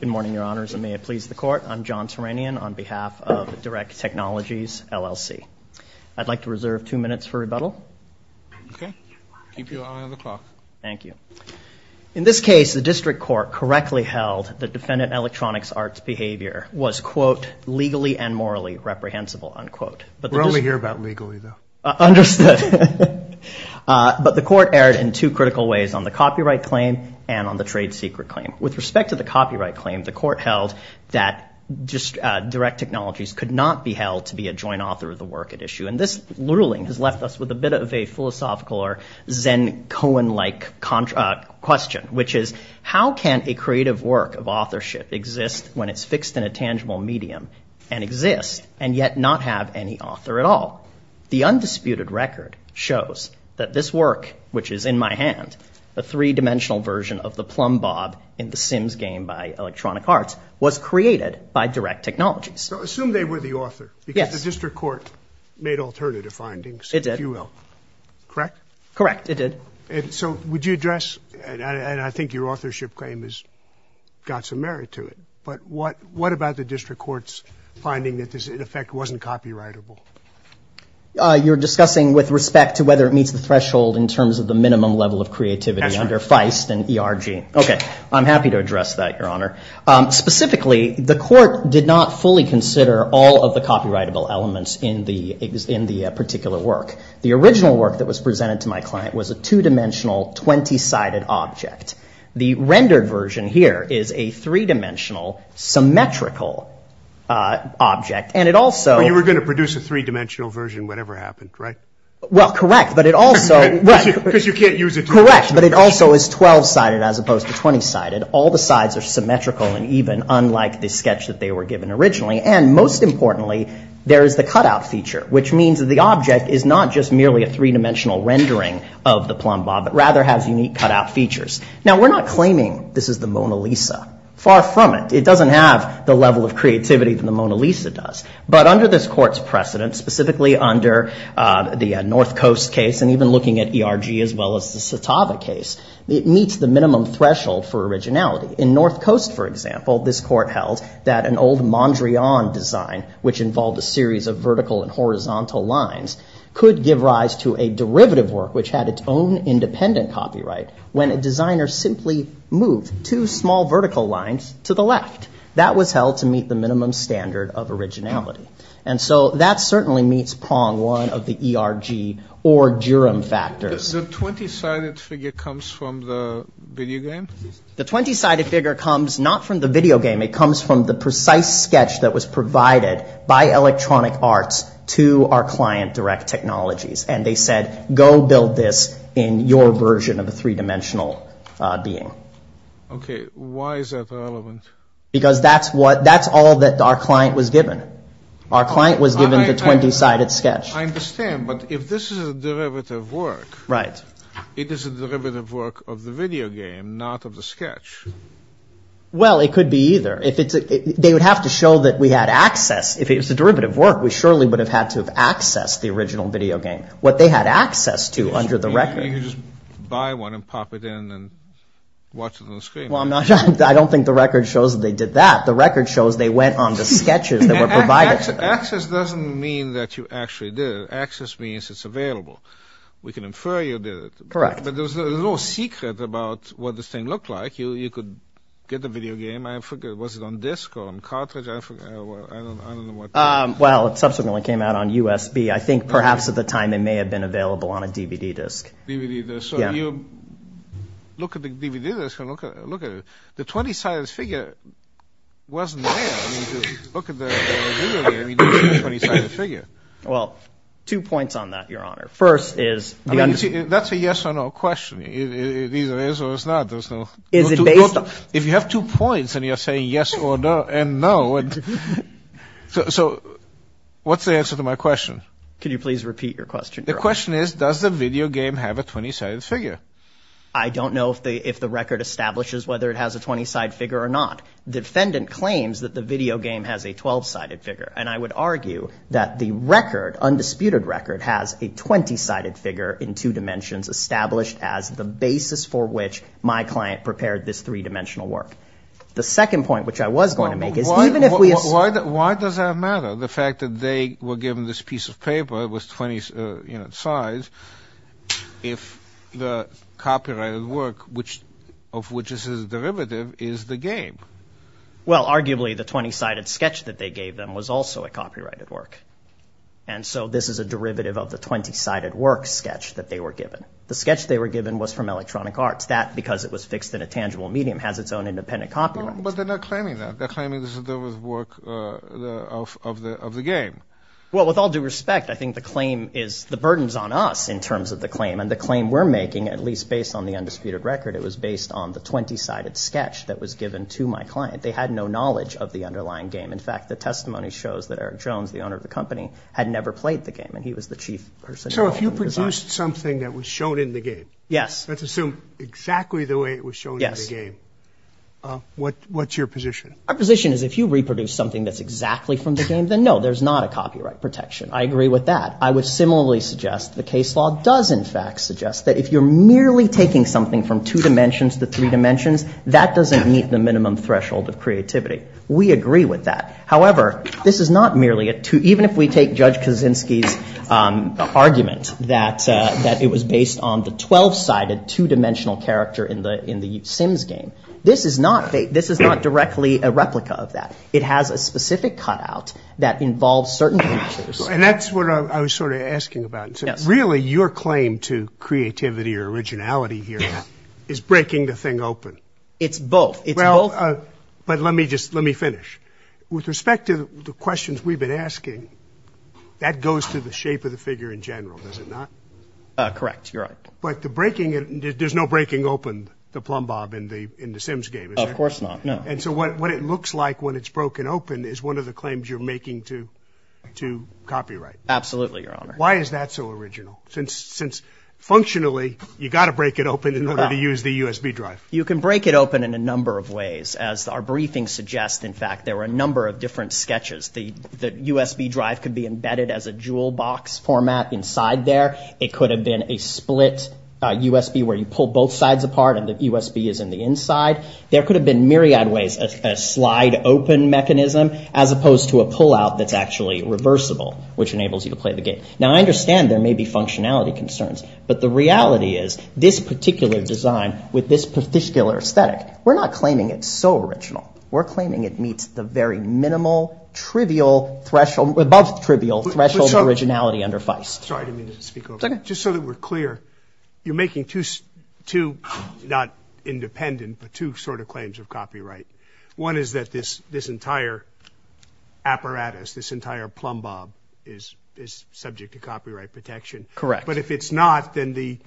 Good morning, Your Honors, and may it please the Court. I'm John Turanian on behalf of Direct Technologies, LLC. I'd like to reserve two minutes for rebuttal. Okay. Keep you on the clock. Thank you. In this case, the District Court correctly held that defendant electronics arts behavior was, quote, legally and morally reprehensible, unquote. We're only here about legally, though. Understood. But the Court erred in two critical ways, on the copyright claim and on the trade secret claim. With respect to the copyright claim, the Court held that Direct Technologies could not be held to be a joint author of the work at issue. And this ruling has left us with a bit of a philosophical or Zen-Cohen-like question, which is, how can a creative work of authorship exist when it's fixed in a tangible medium and exist and yet not have any author at all? The undisputed record shows that this work, which is in my hand, a three-dimensional version of the plumb bob in The Sims game by Electronic Arts, was created by Direct Technologies. So assume they were the author. Yes. Because the District Court made alternative findings, if you will. It did. Correct? Correct. It did. And so would you address, and I think your authorship claim has got some merit to it, but what about the District Court's finding that this, in effect, wasn't copyrightable? You're discussing with respect to whether it meets the threshold in terms of the minimum level of creativity under Feist and ERG. Okay. I'm happy to address that, Your Honor. Specifically, the Court did not fully consider all of the copyrightable elements in the particular work. The original work that was presented to my client was a two-dimensional, 20-sided object. The rendered version here is a three-dimensional, symmetrical object, and it also... You were going to produce a three-dimensional version whatever happened, right? Well, correct, but it also... Because you can't use a two-dimensional version. Correct, but it also is 12-sided as opposed to 20-sided. All the sides are symmetrical and even, unlike the sketch that they were given originally. And most importantly, there is the cutout feature, which means that the object is not just merely a three-dimensional rendering of the plumb bob, but rather has unique cutout features. Now, we're not claiming this is the Mona Lisa. It doesn't have the level of creativity that the Mona Lisa does. But under this Court's precedent, specifically under the North Coast case, and even looking at ERG as well as the Satava case, it meets the minimum threshold for originality. In North Coast, for example, this Court held that an old Mondrian design, which involved a series of vertical and horizontal lines, could give rise to a derivative work, which had its own independent copyright, when a designer simply moved two small vertical lines to the left. That was held to meet the minimum standard of originality. And so, that certainly meets prong one of the ERG or Durham factors. The 20-sided figure comes from the video game? The 20-sided figure comes not from the video game. It comes from the precise sketch that was provided by Electronic Arts to our client, Direct Technologies. And they said, go build this in your version of a three-dimensional being. Okay. Why is that relevant? Because that's what, that's all that our client was given. Our client was given the 20-sided sketch. I understand, but if this is a derivative work, it is a derivative work of the video game, not of the sketch. Well, it could be either. They would have to show that we had access. If it was a derivative work, we surely would have had to have accessed the original video game. What they had access to under the record. You could just buy one and pop it in and watch it on the screen. Well, I don't think the record shows that they did that. The record shows they went on the sketches that were provided to them. Access doesn't mean that you actually did it. Access means it's available. We can infer you did it. Correct. But there's a little secret about what this thing looked like. You could get the video game. I forget, was it on disk or on cartridge? I don't know what. Well, it subsequently came out on USB. I think perhaps at the time it may have been available on a DVD disc. DVD disc. So you look at the DVD disc and look at it. The 20-sided figure wasn't there. I mean, to look at the video game, you don't see a 20-sided figure. Well, two points on that, Your Honor. First is- I mean, that's a yes or no question. It either is or it's not. There's no- Is it based on- If you have two points and you're saying yes or no, so what's the answer to my question? Could you please repeat your question, Your Honor? My question is, does the video game have a 20-sided figure? I don't know if the record establishes whether it has a 20-sided figure or not. The defendant claims that the video game has a 12-sided figure, and I would argue that the record, undisputed record, has a 20-sided figure in two dimensions established as the basis for which my client prepared this three-dimensional work. The second point, which I was going to make, is even if we- Why does that matter, the fact that they were given this piece of paper, it was 20 sides, if the copyrighted work of which this is a derivative is the game? Well, arguably, the 20-sided sketch that they gave them was also a copyrighted work, and so this is a derivative of the 20-sided work sketch that they were given. The sketch they were given was from Electronic Arts. That, because it was fixed in a tangible medium, has its own independent copyright. But they're not claiming that. They're claiming this is the work of the game. Well, with all due respect, I think the claim is- the burden's on us in terms of the claim, and the claim we're making, at least based on the undisputed record, it was based on the 20-sided sketch that was given to my client. They had no knowledge of the underlying game. In fact, the testimony shows that Eric Jones, the owner of the company, had never played the game, and he was the chief person- So if you produced something that was shown in the game, let's assume exactly the way it was shown in the game, what's your position? Our position is if you reproduce something that's exactly from the game, then no, there's not a copyright protection. I agree with that. I would similarly suggest the case law does in fact suggest that if you're merely taking something from two dimensions to three dimensions, that doesn't meet the minimum threshold of creativity. We agree with that. However, this is not merely a two- even if we take Judge Kaczynski's argument that it was based on the 12-sided two-dimensional character in the Sims game. This is not directly a replica of that. It has a specific cutout that involves certain features. That's what I was sort of asking about. Really, your claim to creativity or originality here is breaking the thing open. It's both. Well, but let me just finish. With respect to the questions we've been asking, that goes to the shape of the figure in general, does it not? Correct. You're right. But there's no breaking open the plumb bob in the Sims game, is there? Of course not. No. And so what it looks like when it's broken open is one of the claims you're making to copyright. Absolutely, Your Honor. Why is that so original? Since functionally, you've got to break it open in order to use the USB drive. You can break it open in a number of ways. As our briefing suggests, in fact, there were a number of different sketches. The USB drive could be embedded as a jewel box format inside there. It could have been a split USB where you pull both sides apart and the USB is in the inside. There could have been myriad ways, a slide open mechanism as opposed to a pullout that's actually reversible, which enables you to play the game. Now, I understand there may be functionality concerns, but the reality is this particular design with this particular aesthetic, we're not claiming it's so original. We're claiming it meets the very minimal, trivial threshold, above trivial threshold originality under Feist. Sorry, I didn't mean to speak over you. It's okay. Just so that we're clear, you're making two, not independent, but two sort of claims of copyright. One is that this entire apparatus, this entire plumbob is subject to copyright protection. Correct. But if it's not, then the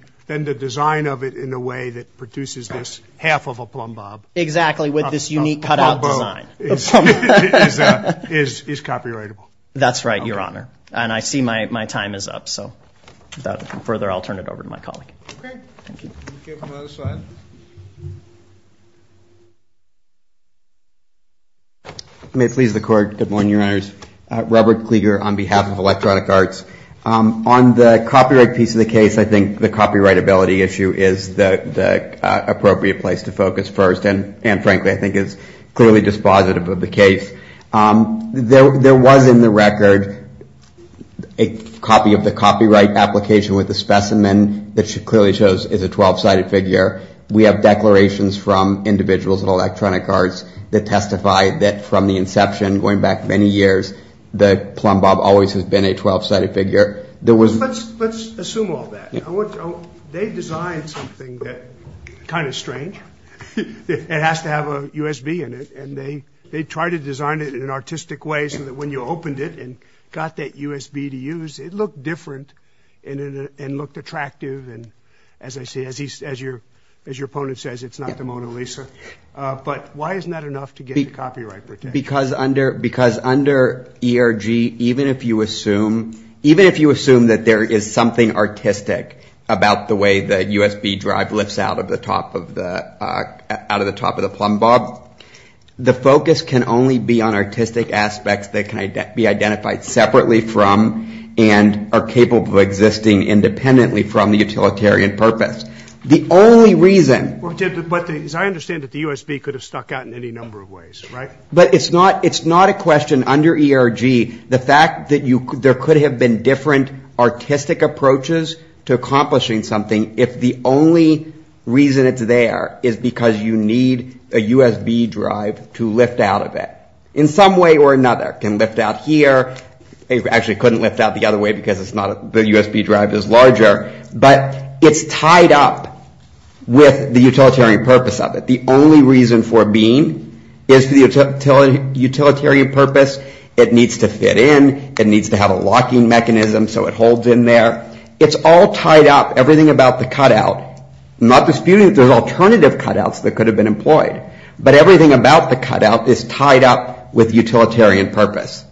design of it in a way that produces this half of a plumbob... Exactly, with this unique cutout design...... is copyrightable. That's right, Your Honor, and I see my time is up, so without further, I'll turn it over to my colleague. Okay. Thank you. We'll go to the other side. May it please the court. Good morning, Your Honors. Robert Klieger on behalf of Electronic Arts. On the copyright piece of the case, I think the copyrightability issue is the appropriate place to focus first, and frankly, I think it's clearly dispositive of the case. There was in the record a copy of the copyright application with the specimen that clearly shows it's a 12-sided figure. We have declarations from individuals at Electronic Arts that testify that from the inception, going back many years, the plumbob always has been a 12-sided figure. There was... Let's assume all that. They designed something that's kind of strange. It has to have a USB in it, and they tried to design it in an artistic way so that when you opened it and got that USB to use, it looked different and looked attractive, and as I see, as your opponent says, it's not the Mona Lisa. But why isn't that enough to get the copyright protection? Because under ERG, even if you assume that there is something artistic about the way the USB drive lifts out of the top of the plumbob, the focus can only be on artistic aspects that can be identified separately from and are capable of existing independently from the utilitarian purpose. The only reason... But as I understand it, the USB could have stuck out in any number of ways, right? But it's not a question under ERG, the fact that there could have been different artistic approaches to accomplishing something if the only reason it's there is because you need a USB drive to lift out of it. In some way or another, it can lift out here, it actually couldn't lift out the other way because it's not... The USB drive is larger, but it's tied up with the utilitarian purpose of it. The only reason for being is for the utilitarian purpose. It needs to fit in, it needs to have a locking mechanism so it holds in there. It's all tied up, everything about the cutout, not disputing that there's alternative cutouts that could have been employed, but everything about the cutout is tied up with utilitarian purpose.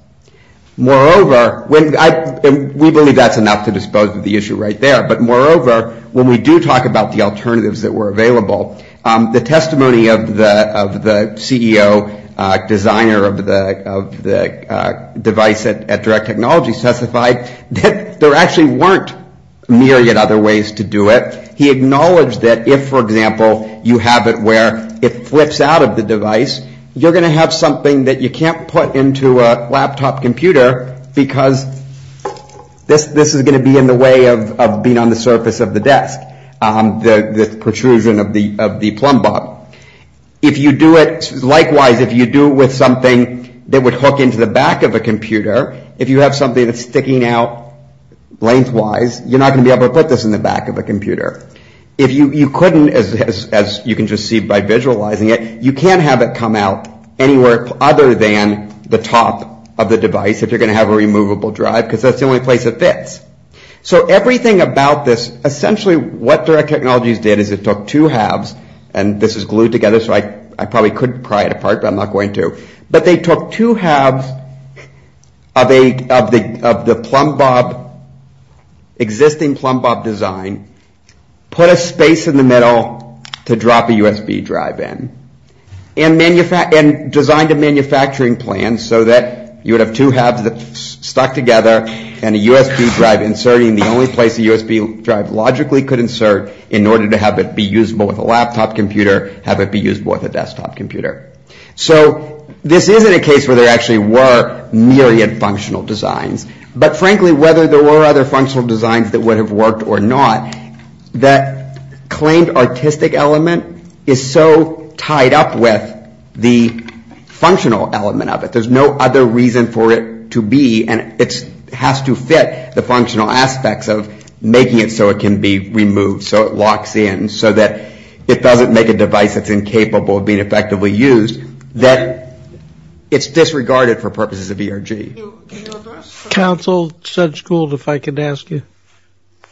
Moreover, we believe that's enough to dispose of the issue right there, but moreover, when we do talk about the alternatives that were available, the testimony of the CEO, designer of the device at Direct Technology, testified that there actually weren't myriad other ways to do it. He acknowledged that if, for example, you have it where it flips out of the device, you're going to have something that you can't put into a laptop computer because this is going to be in the way of being on the surface of the desk, the protrusion of the plumb bob. Likewise, if you do it with something that would hook into the back of a computer, if you have something that's sticking out lengthwise, you're not going to be able to put this in the back of a computer. If you couldn't, as you can just see by visualizing it, you can't have it come out anywhere other than the top of the device if you're going to have a removable drive because that's the only place it fits. So everything about this, essentially what Direct Technology did is it took two halves, and this is glued together so I probably could pry it apart but I'm not going to, but they took two halves of the existing plumb bob design, put a space in the middle to drop a USB drive in, and designed a manufacturing plan so that you would have two halves stuck together and a USB drive inserting the only place a USB drive logically could insert in a laptop computer, have it be usable with a desktop computer. So this isn't a case where there actually were myriad functional designs, but frankly whether there were other functional designs that would have worked or not, that claimed artistic element is so tied up with the functional element of it. There's no other reason for it to be, and it has to fit the functional aspects of making it so it can be removed, so it locks in, so that it doesn't make a device that's incapable of being effectively used, that it's disregarded for purposes of ERG. Counsel Sedgegold, if I could ask you,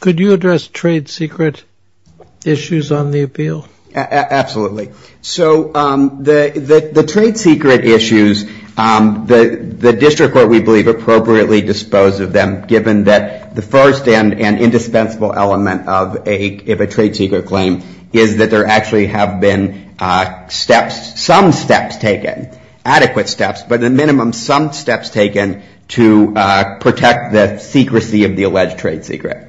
could you address trade secret issues on the appeal? Absolutely. So the trade secret issues, the district court we believe appropriately disposed of them given that the first and indispensable element of a trade secret claim is that there actually have been steps, some steps taken, adequate steps, but at minimum some steps taken to protect the secrecy of the alleged trade secret.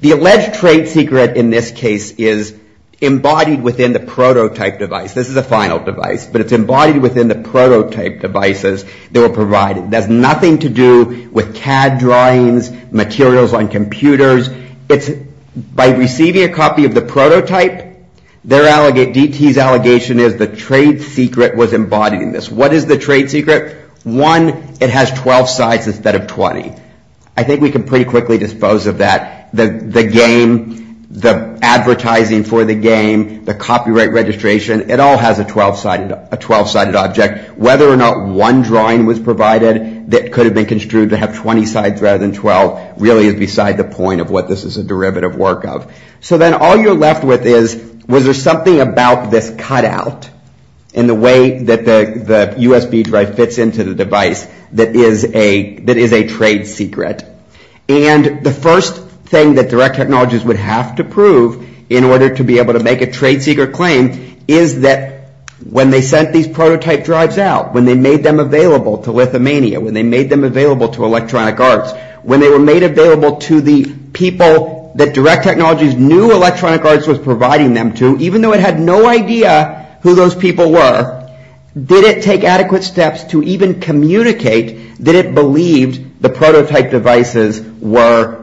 The alleged trade secret in this case is embodied within the prototype device. This is a final device, but it's embodied within the prototype devices that were provided. It has nothing to do with CAD drawings, materials on computers. It's by receiving a copy of the prototype, DT's allegation is the trade secret was embodied in this. What is the trade secret? One, it has 12 sides instead of 20. I think we can pretty quickly dispose of that. The game, the advertising for the game, the copyright registration, it all has a 12 sided object. Whether or not one drawing was provided that could have been construed to have 20 sides rather than 12 really is beside the point of what this is a derivative work of. So then all you're left with is, was there something about this cut out in the way that the USB drive fits into the device that is a trade secret? The first thing that direct technologies would have to prove in order to be able to make a trade secret claim is that when they sent these prototype drives out, when they made them available to Lithuania, when they made them available to Electronic Arts, when they were made available to the people that direct technologies knew Electronic Arts was providing them to, even though it had no idea who those people were, did it take adequate steps to even communicate, did it believe the prototype devices were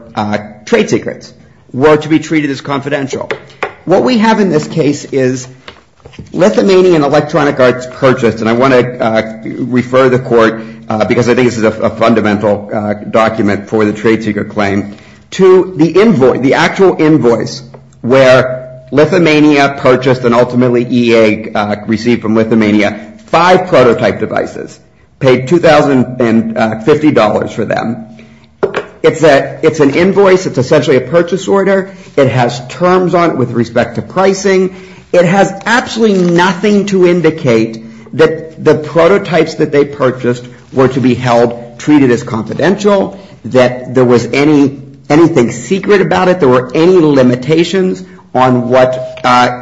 trade secrets, were to be treated as confidential? What we have in this case is Lithuania and Electronic Arts purchased, and I want to refer the court, because I think this is a fundamental document for the trade secret claim, to the invoice, the actual invoice, where Lithuania purchased and ultimately EA received from Lithuania five prototype devices, paid $2,050 for them, it's an invoice, it's essentially a purchase order, it has terms on it with respect to pricing, it has absolutely nothing to indicate that the prototypes that they purchased were to be held, treated as confidential, that there was anything secret about it, there were any limitations on what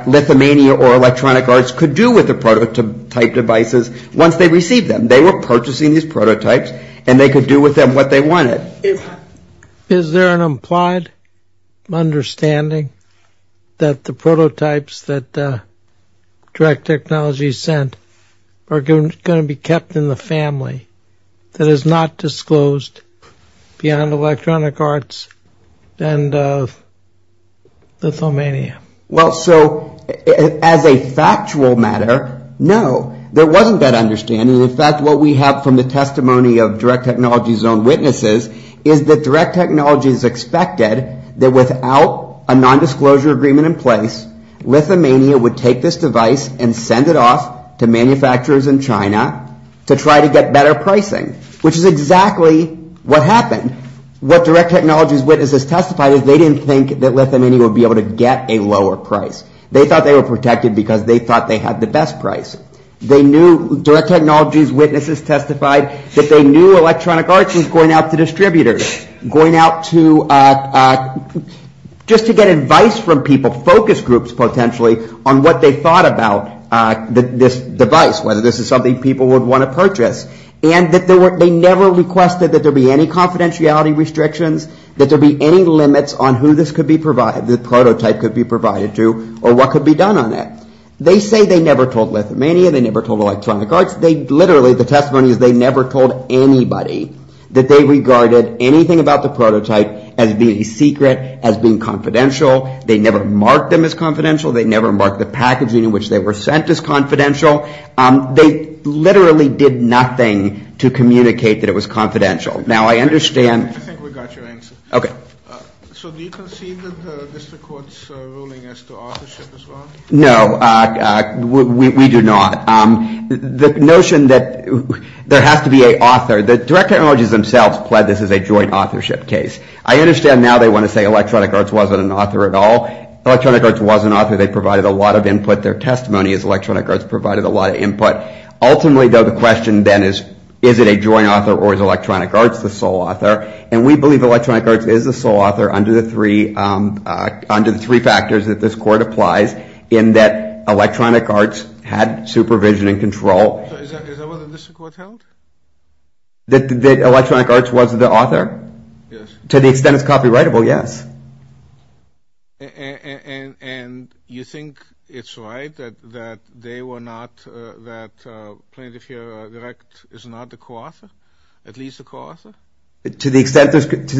Lithuania or Electronic Arts could do with the prototype devices once they received them. They were purchasing these prototypes and they could do with them what they wanted. Is there an implied understanding that the prototypes that Direct Technology sent are going to be kept in the family, that is not disclosed beyond Electronic Arts and Lithuania? Well, so, as a factual matter, no, there wasn't that understanding. In fact, what we have from the testimony of Direct Technology's own witnesses is that Direct Technology is expected that without a non-disclosure agreement in place, Lithuania would take this device and send it off to manufacturers in China to try to get better pricing, which is exactly what happened. What Direct Technology's witnesses testified is they didn't think that Lithuania would be able to get a lower price. They thought they were protected because they thought they had the best price. They knew, Direct Technology's witnesses testified, that they knew Electronic Arts was going out to distributors, going out to, just to get advice from people, focus groups potentially, on what they thought about this device, whether this is something people would want to purchase. And that they never requested that there be any confidentiality restrictions, that there be any limits on who this prototype could be provided to or what could be done on it. They say they never told Lithuania, they never told Electronic Arts. They literally, the testimony is they never told anybody that they regarded anything about the prototype as being a secret, as being confidential. They never marked them as confidential. They never marked the packaging in which they were sent as confidential. They literally did nothing to communicate that it was confidential. Now, I understand I think we got your answer. So do you concede that the District Court's ruling as to authorship is wrong? No, we do not. The notion that there has to be an author, that Direct Technology's themselves pled this as a joint authorship case. I understand now they want to say Electronic Arts wasn't an author at all. Electronic Arts was an author. They provided a lot of input. Their testimony is Electronic Arts provided a lot of input. Ultimately, though, the question then is, is it a joint author or is Electronic Arts the sole author? And we believe Electronic Arts is the sole author under the three factors that this Court applies in that Electronic Arts had supervision and control. So is that what the District Court held? That Electronic Arts was the author? Yes. To the extent it's copyrightable, yes. And you think it's right that they were not, that Planet of Fear Direct is not the co-author, at least the co-author? To the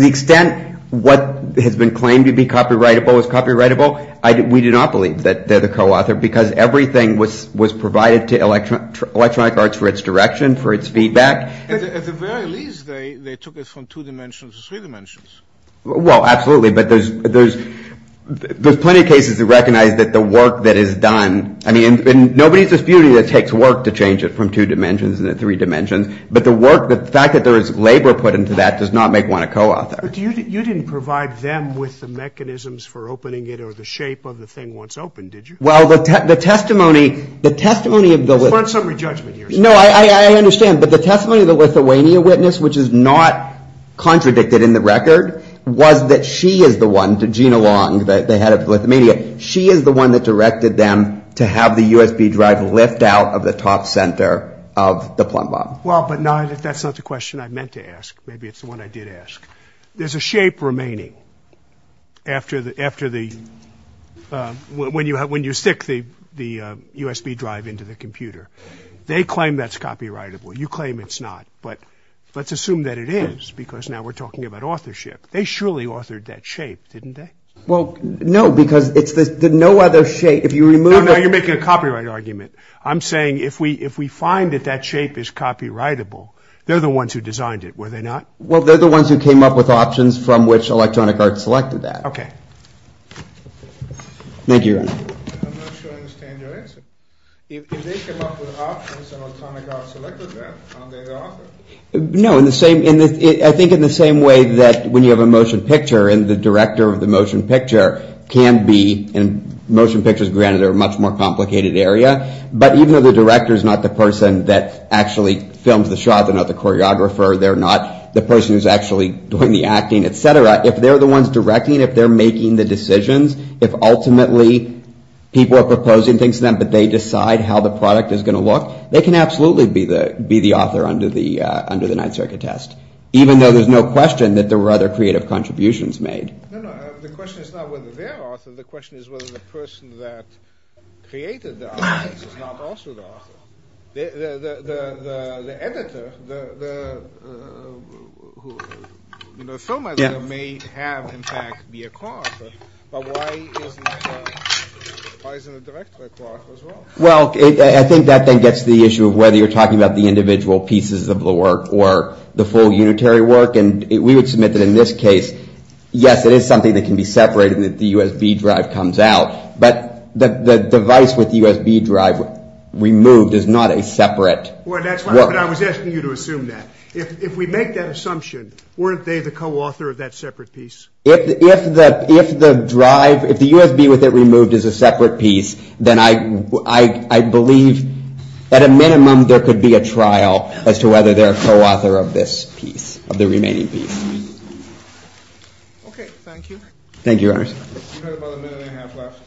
extent what has been claimed to be copyrightable is copyrightable, we do not believe that they're the co-author because everything was provided to Electronic Arts for its direction, for its feedback. At the very least, they took it from two dimensions to three dimensions. Well, absolutely, but there's plenty of cases that recognize that the work that is done, I mean, and nobody's disputing that it takes work to change it from two dimensions into three dimensions, but the work, the fact that there is labor put into that does not make one a co-author. But you didn't provide them with the mechanisms for opening it or the shape of the thing once opened, did you? Well, the testimony, the testimony of the Lithuania witness, which is not contradicted in the record, was that she is the one, Gina Long, the head of Lithuania, she is the one that directed them to have the USB drive lift out of the top center of the plumbum. Well, but that's not the question I meant to ask, maybe it's the one I did ask. There's a shape remaining after the, when you stick the USB drive into the computer. They claim that's copyrightable, you claim it's not, but let's assume that it is because now we're talking about authorship. They surely authored that shape, didn't they? Well, no, because it's the no other shape, if you remove it. No, no, you're making a copyright argument. I'm saying if we, if we find that that shape is copyrightable, they're the ones who designed it, were they not? Well, they're the ones who came up with options from which Electronic Arts selected that. Okay. Thank you. I'm not sure I understand your answer. If they came up with options and Electronic Arts selected No, in the same, I think in the same way that when you have a motion picture and the director of the motion picture can be, and motion pictures granted are a much more complicated area, but even though the director is not the person that actually films the shot, they're not the choreographer, they're not the person who's actually doing the acting, et cetera, if they're the ones directing, if they're making the decisions, if ultimately people are proposing things to them, but they decide how the product is going to look, they can absolutely be the, be the author under the, under the Ninth Circuit test, even though there's no question that there were other creative contributions made. No, no, the question is not whether they're the author, the question is whether the person that created the artist is not also the author. The, the, the, the, the editor, the, the, who, you know, the film editor may have in fact be a choreographer, but why isn't, why isn't the director a choreographer as well? Well, I think that then gets to the issue of whether you're talking about the individual pieces of the work or the full unitary work, and we would submit that in this case, yes, it is something that can be separated and that the USB drive comes out, but the, the device with the USB drive removed is not a separate work. Well, that's what I was asking you to assume that. If, if we make that assumption, weren't they the co-author of that separate piece? If, if the, if the drive, if the USB with it removed is a separate piece, then I, I, I believe at a minimum there could be a trial as to whether they're a co-author of this piece, of the remaining piece. Okay, thank you. Thank you, Your Honors. We've got about a minute and a half left.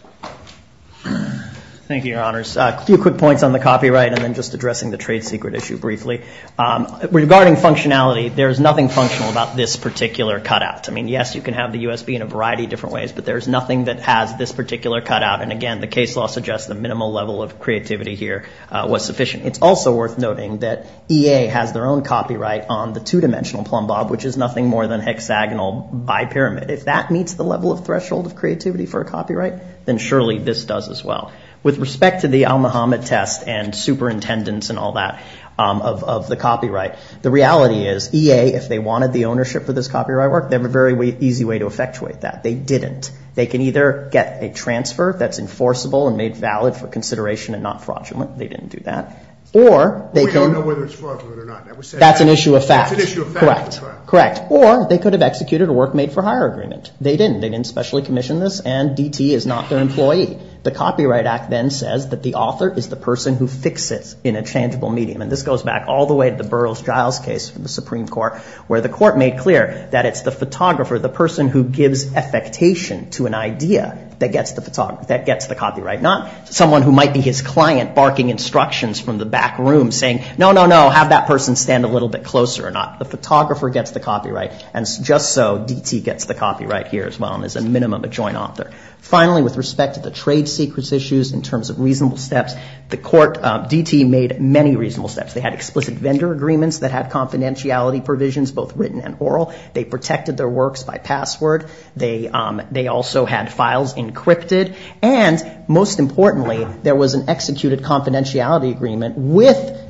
Thank you, Your Honors. A few quick points on the copyright and then just addressing the trade secret issue briefly. Regarding functionality, there is nothing functional about this particular cutout. I mean, yes, you can have the USB in a variety of different ways, but there is nothing that has this particular cutout, and again, the case law suggests the minimal level of creativity here was sufficient. It's also worth noting that EA has their own copyright on the two-dimensional plumbob, which is nothing more than hexagonal bipyramid. If that meets the level of threshold of creativity for a copyright, then surely this does as well. With respect to the Al Muhammad test and superintendents and all that of, of the copyright, the reality is EA, if they wanted the ownership for this copyright work, they have a very easy way to effectuate that. They didn't. They can either get a transfer that's enforceable and made valid for consideration and not fraudulent. They didn't do that. Or they can... We don't know whether it's fraudulent or not. That was said... That's an issue of fact. That's an issue of fact. Correct. Correct. Or they could have executed a work made for hire agreement. They didn't. They didn't specially commission this, and DT is not their employee. The Copyright Act then says that the author is the person who fixes in a changeable medium, and this goes back all the way to the Burroughs-Giles case from the Supreme Court, where the court made clear that it's the photographer, the person who gives affectation to an idea that gets the photog... that gets the copyright, not someone who might be his client barking instructions from the back room saying, no, no, no, have that person stand a little bit closer or not. The photographer gets the copyright, and just so, DT gets the copyright here as well and is a minimum a joint author. Finally, with respect to the trade secrets issues in terms of reasonable steps, the court... DT made many reasonable steps. They had explicit vendor agreements that had confidentiality provisions, both written and oral. They protected their works by password. They also had files encrypted, and most importantly, there was an executed confidentiality agreement with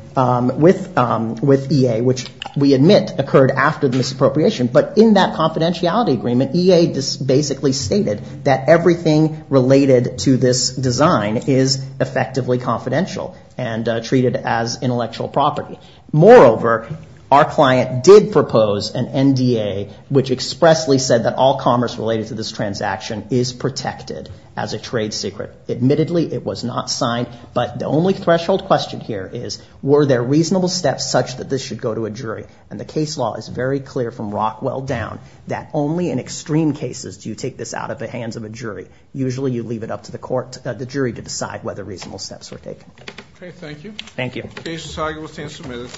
EA, which we admit occurred after the misappropriation, but in that confidentiality agreement, EA basically stated that everything related to this design is effectively confidential and treated as intellectual property. Moreover, our client did propose an NDA, which expressly said that all commerce related to this transaction is protected as a trade secret. Admittedly, it was not signed, but the only threshold question here is, were there reasonable steps such that this should go to a jury? And the case law is very clear from Rockwell down that only in extreme cases do you take this out of the hands of a jury. Usually you leave it up to the court... the jury to decide whether reasonable steps were taken. Okay, thank you. Thank you. The case has now been submitted.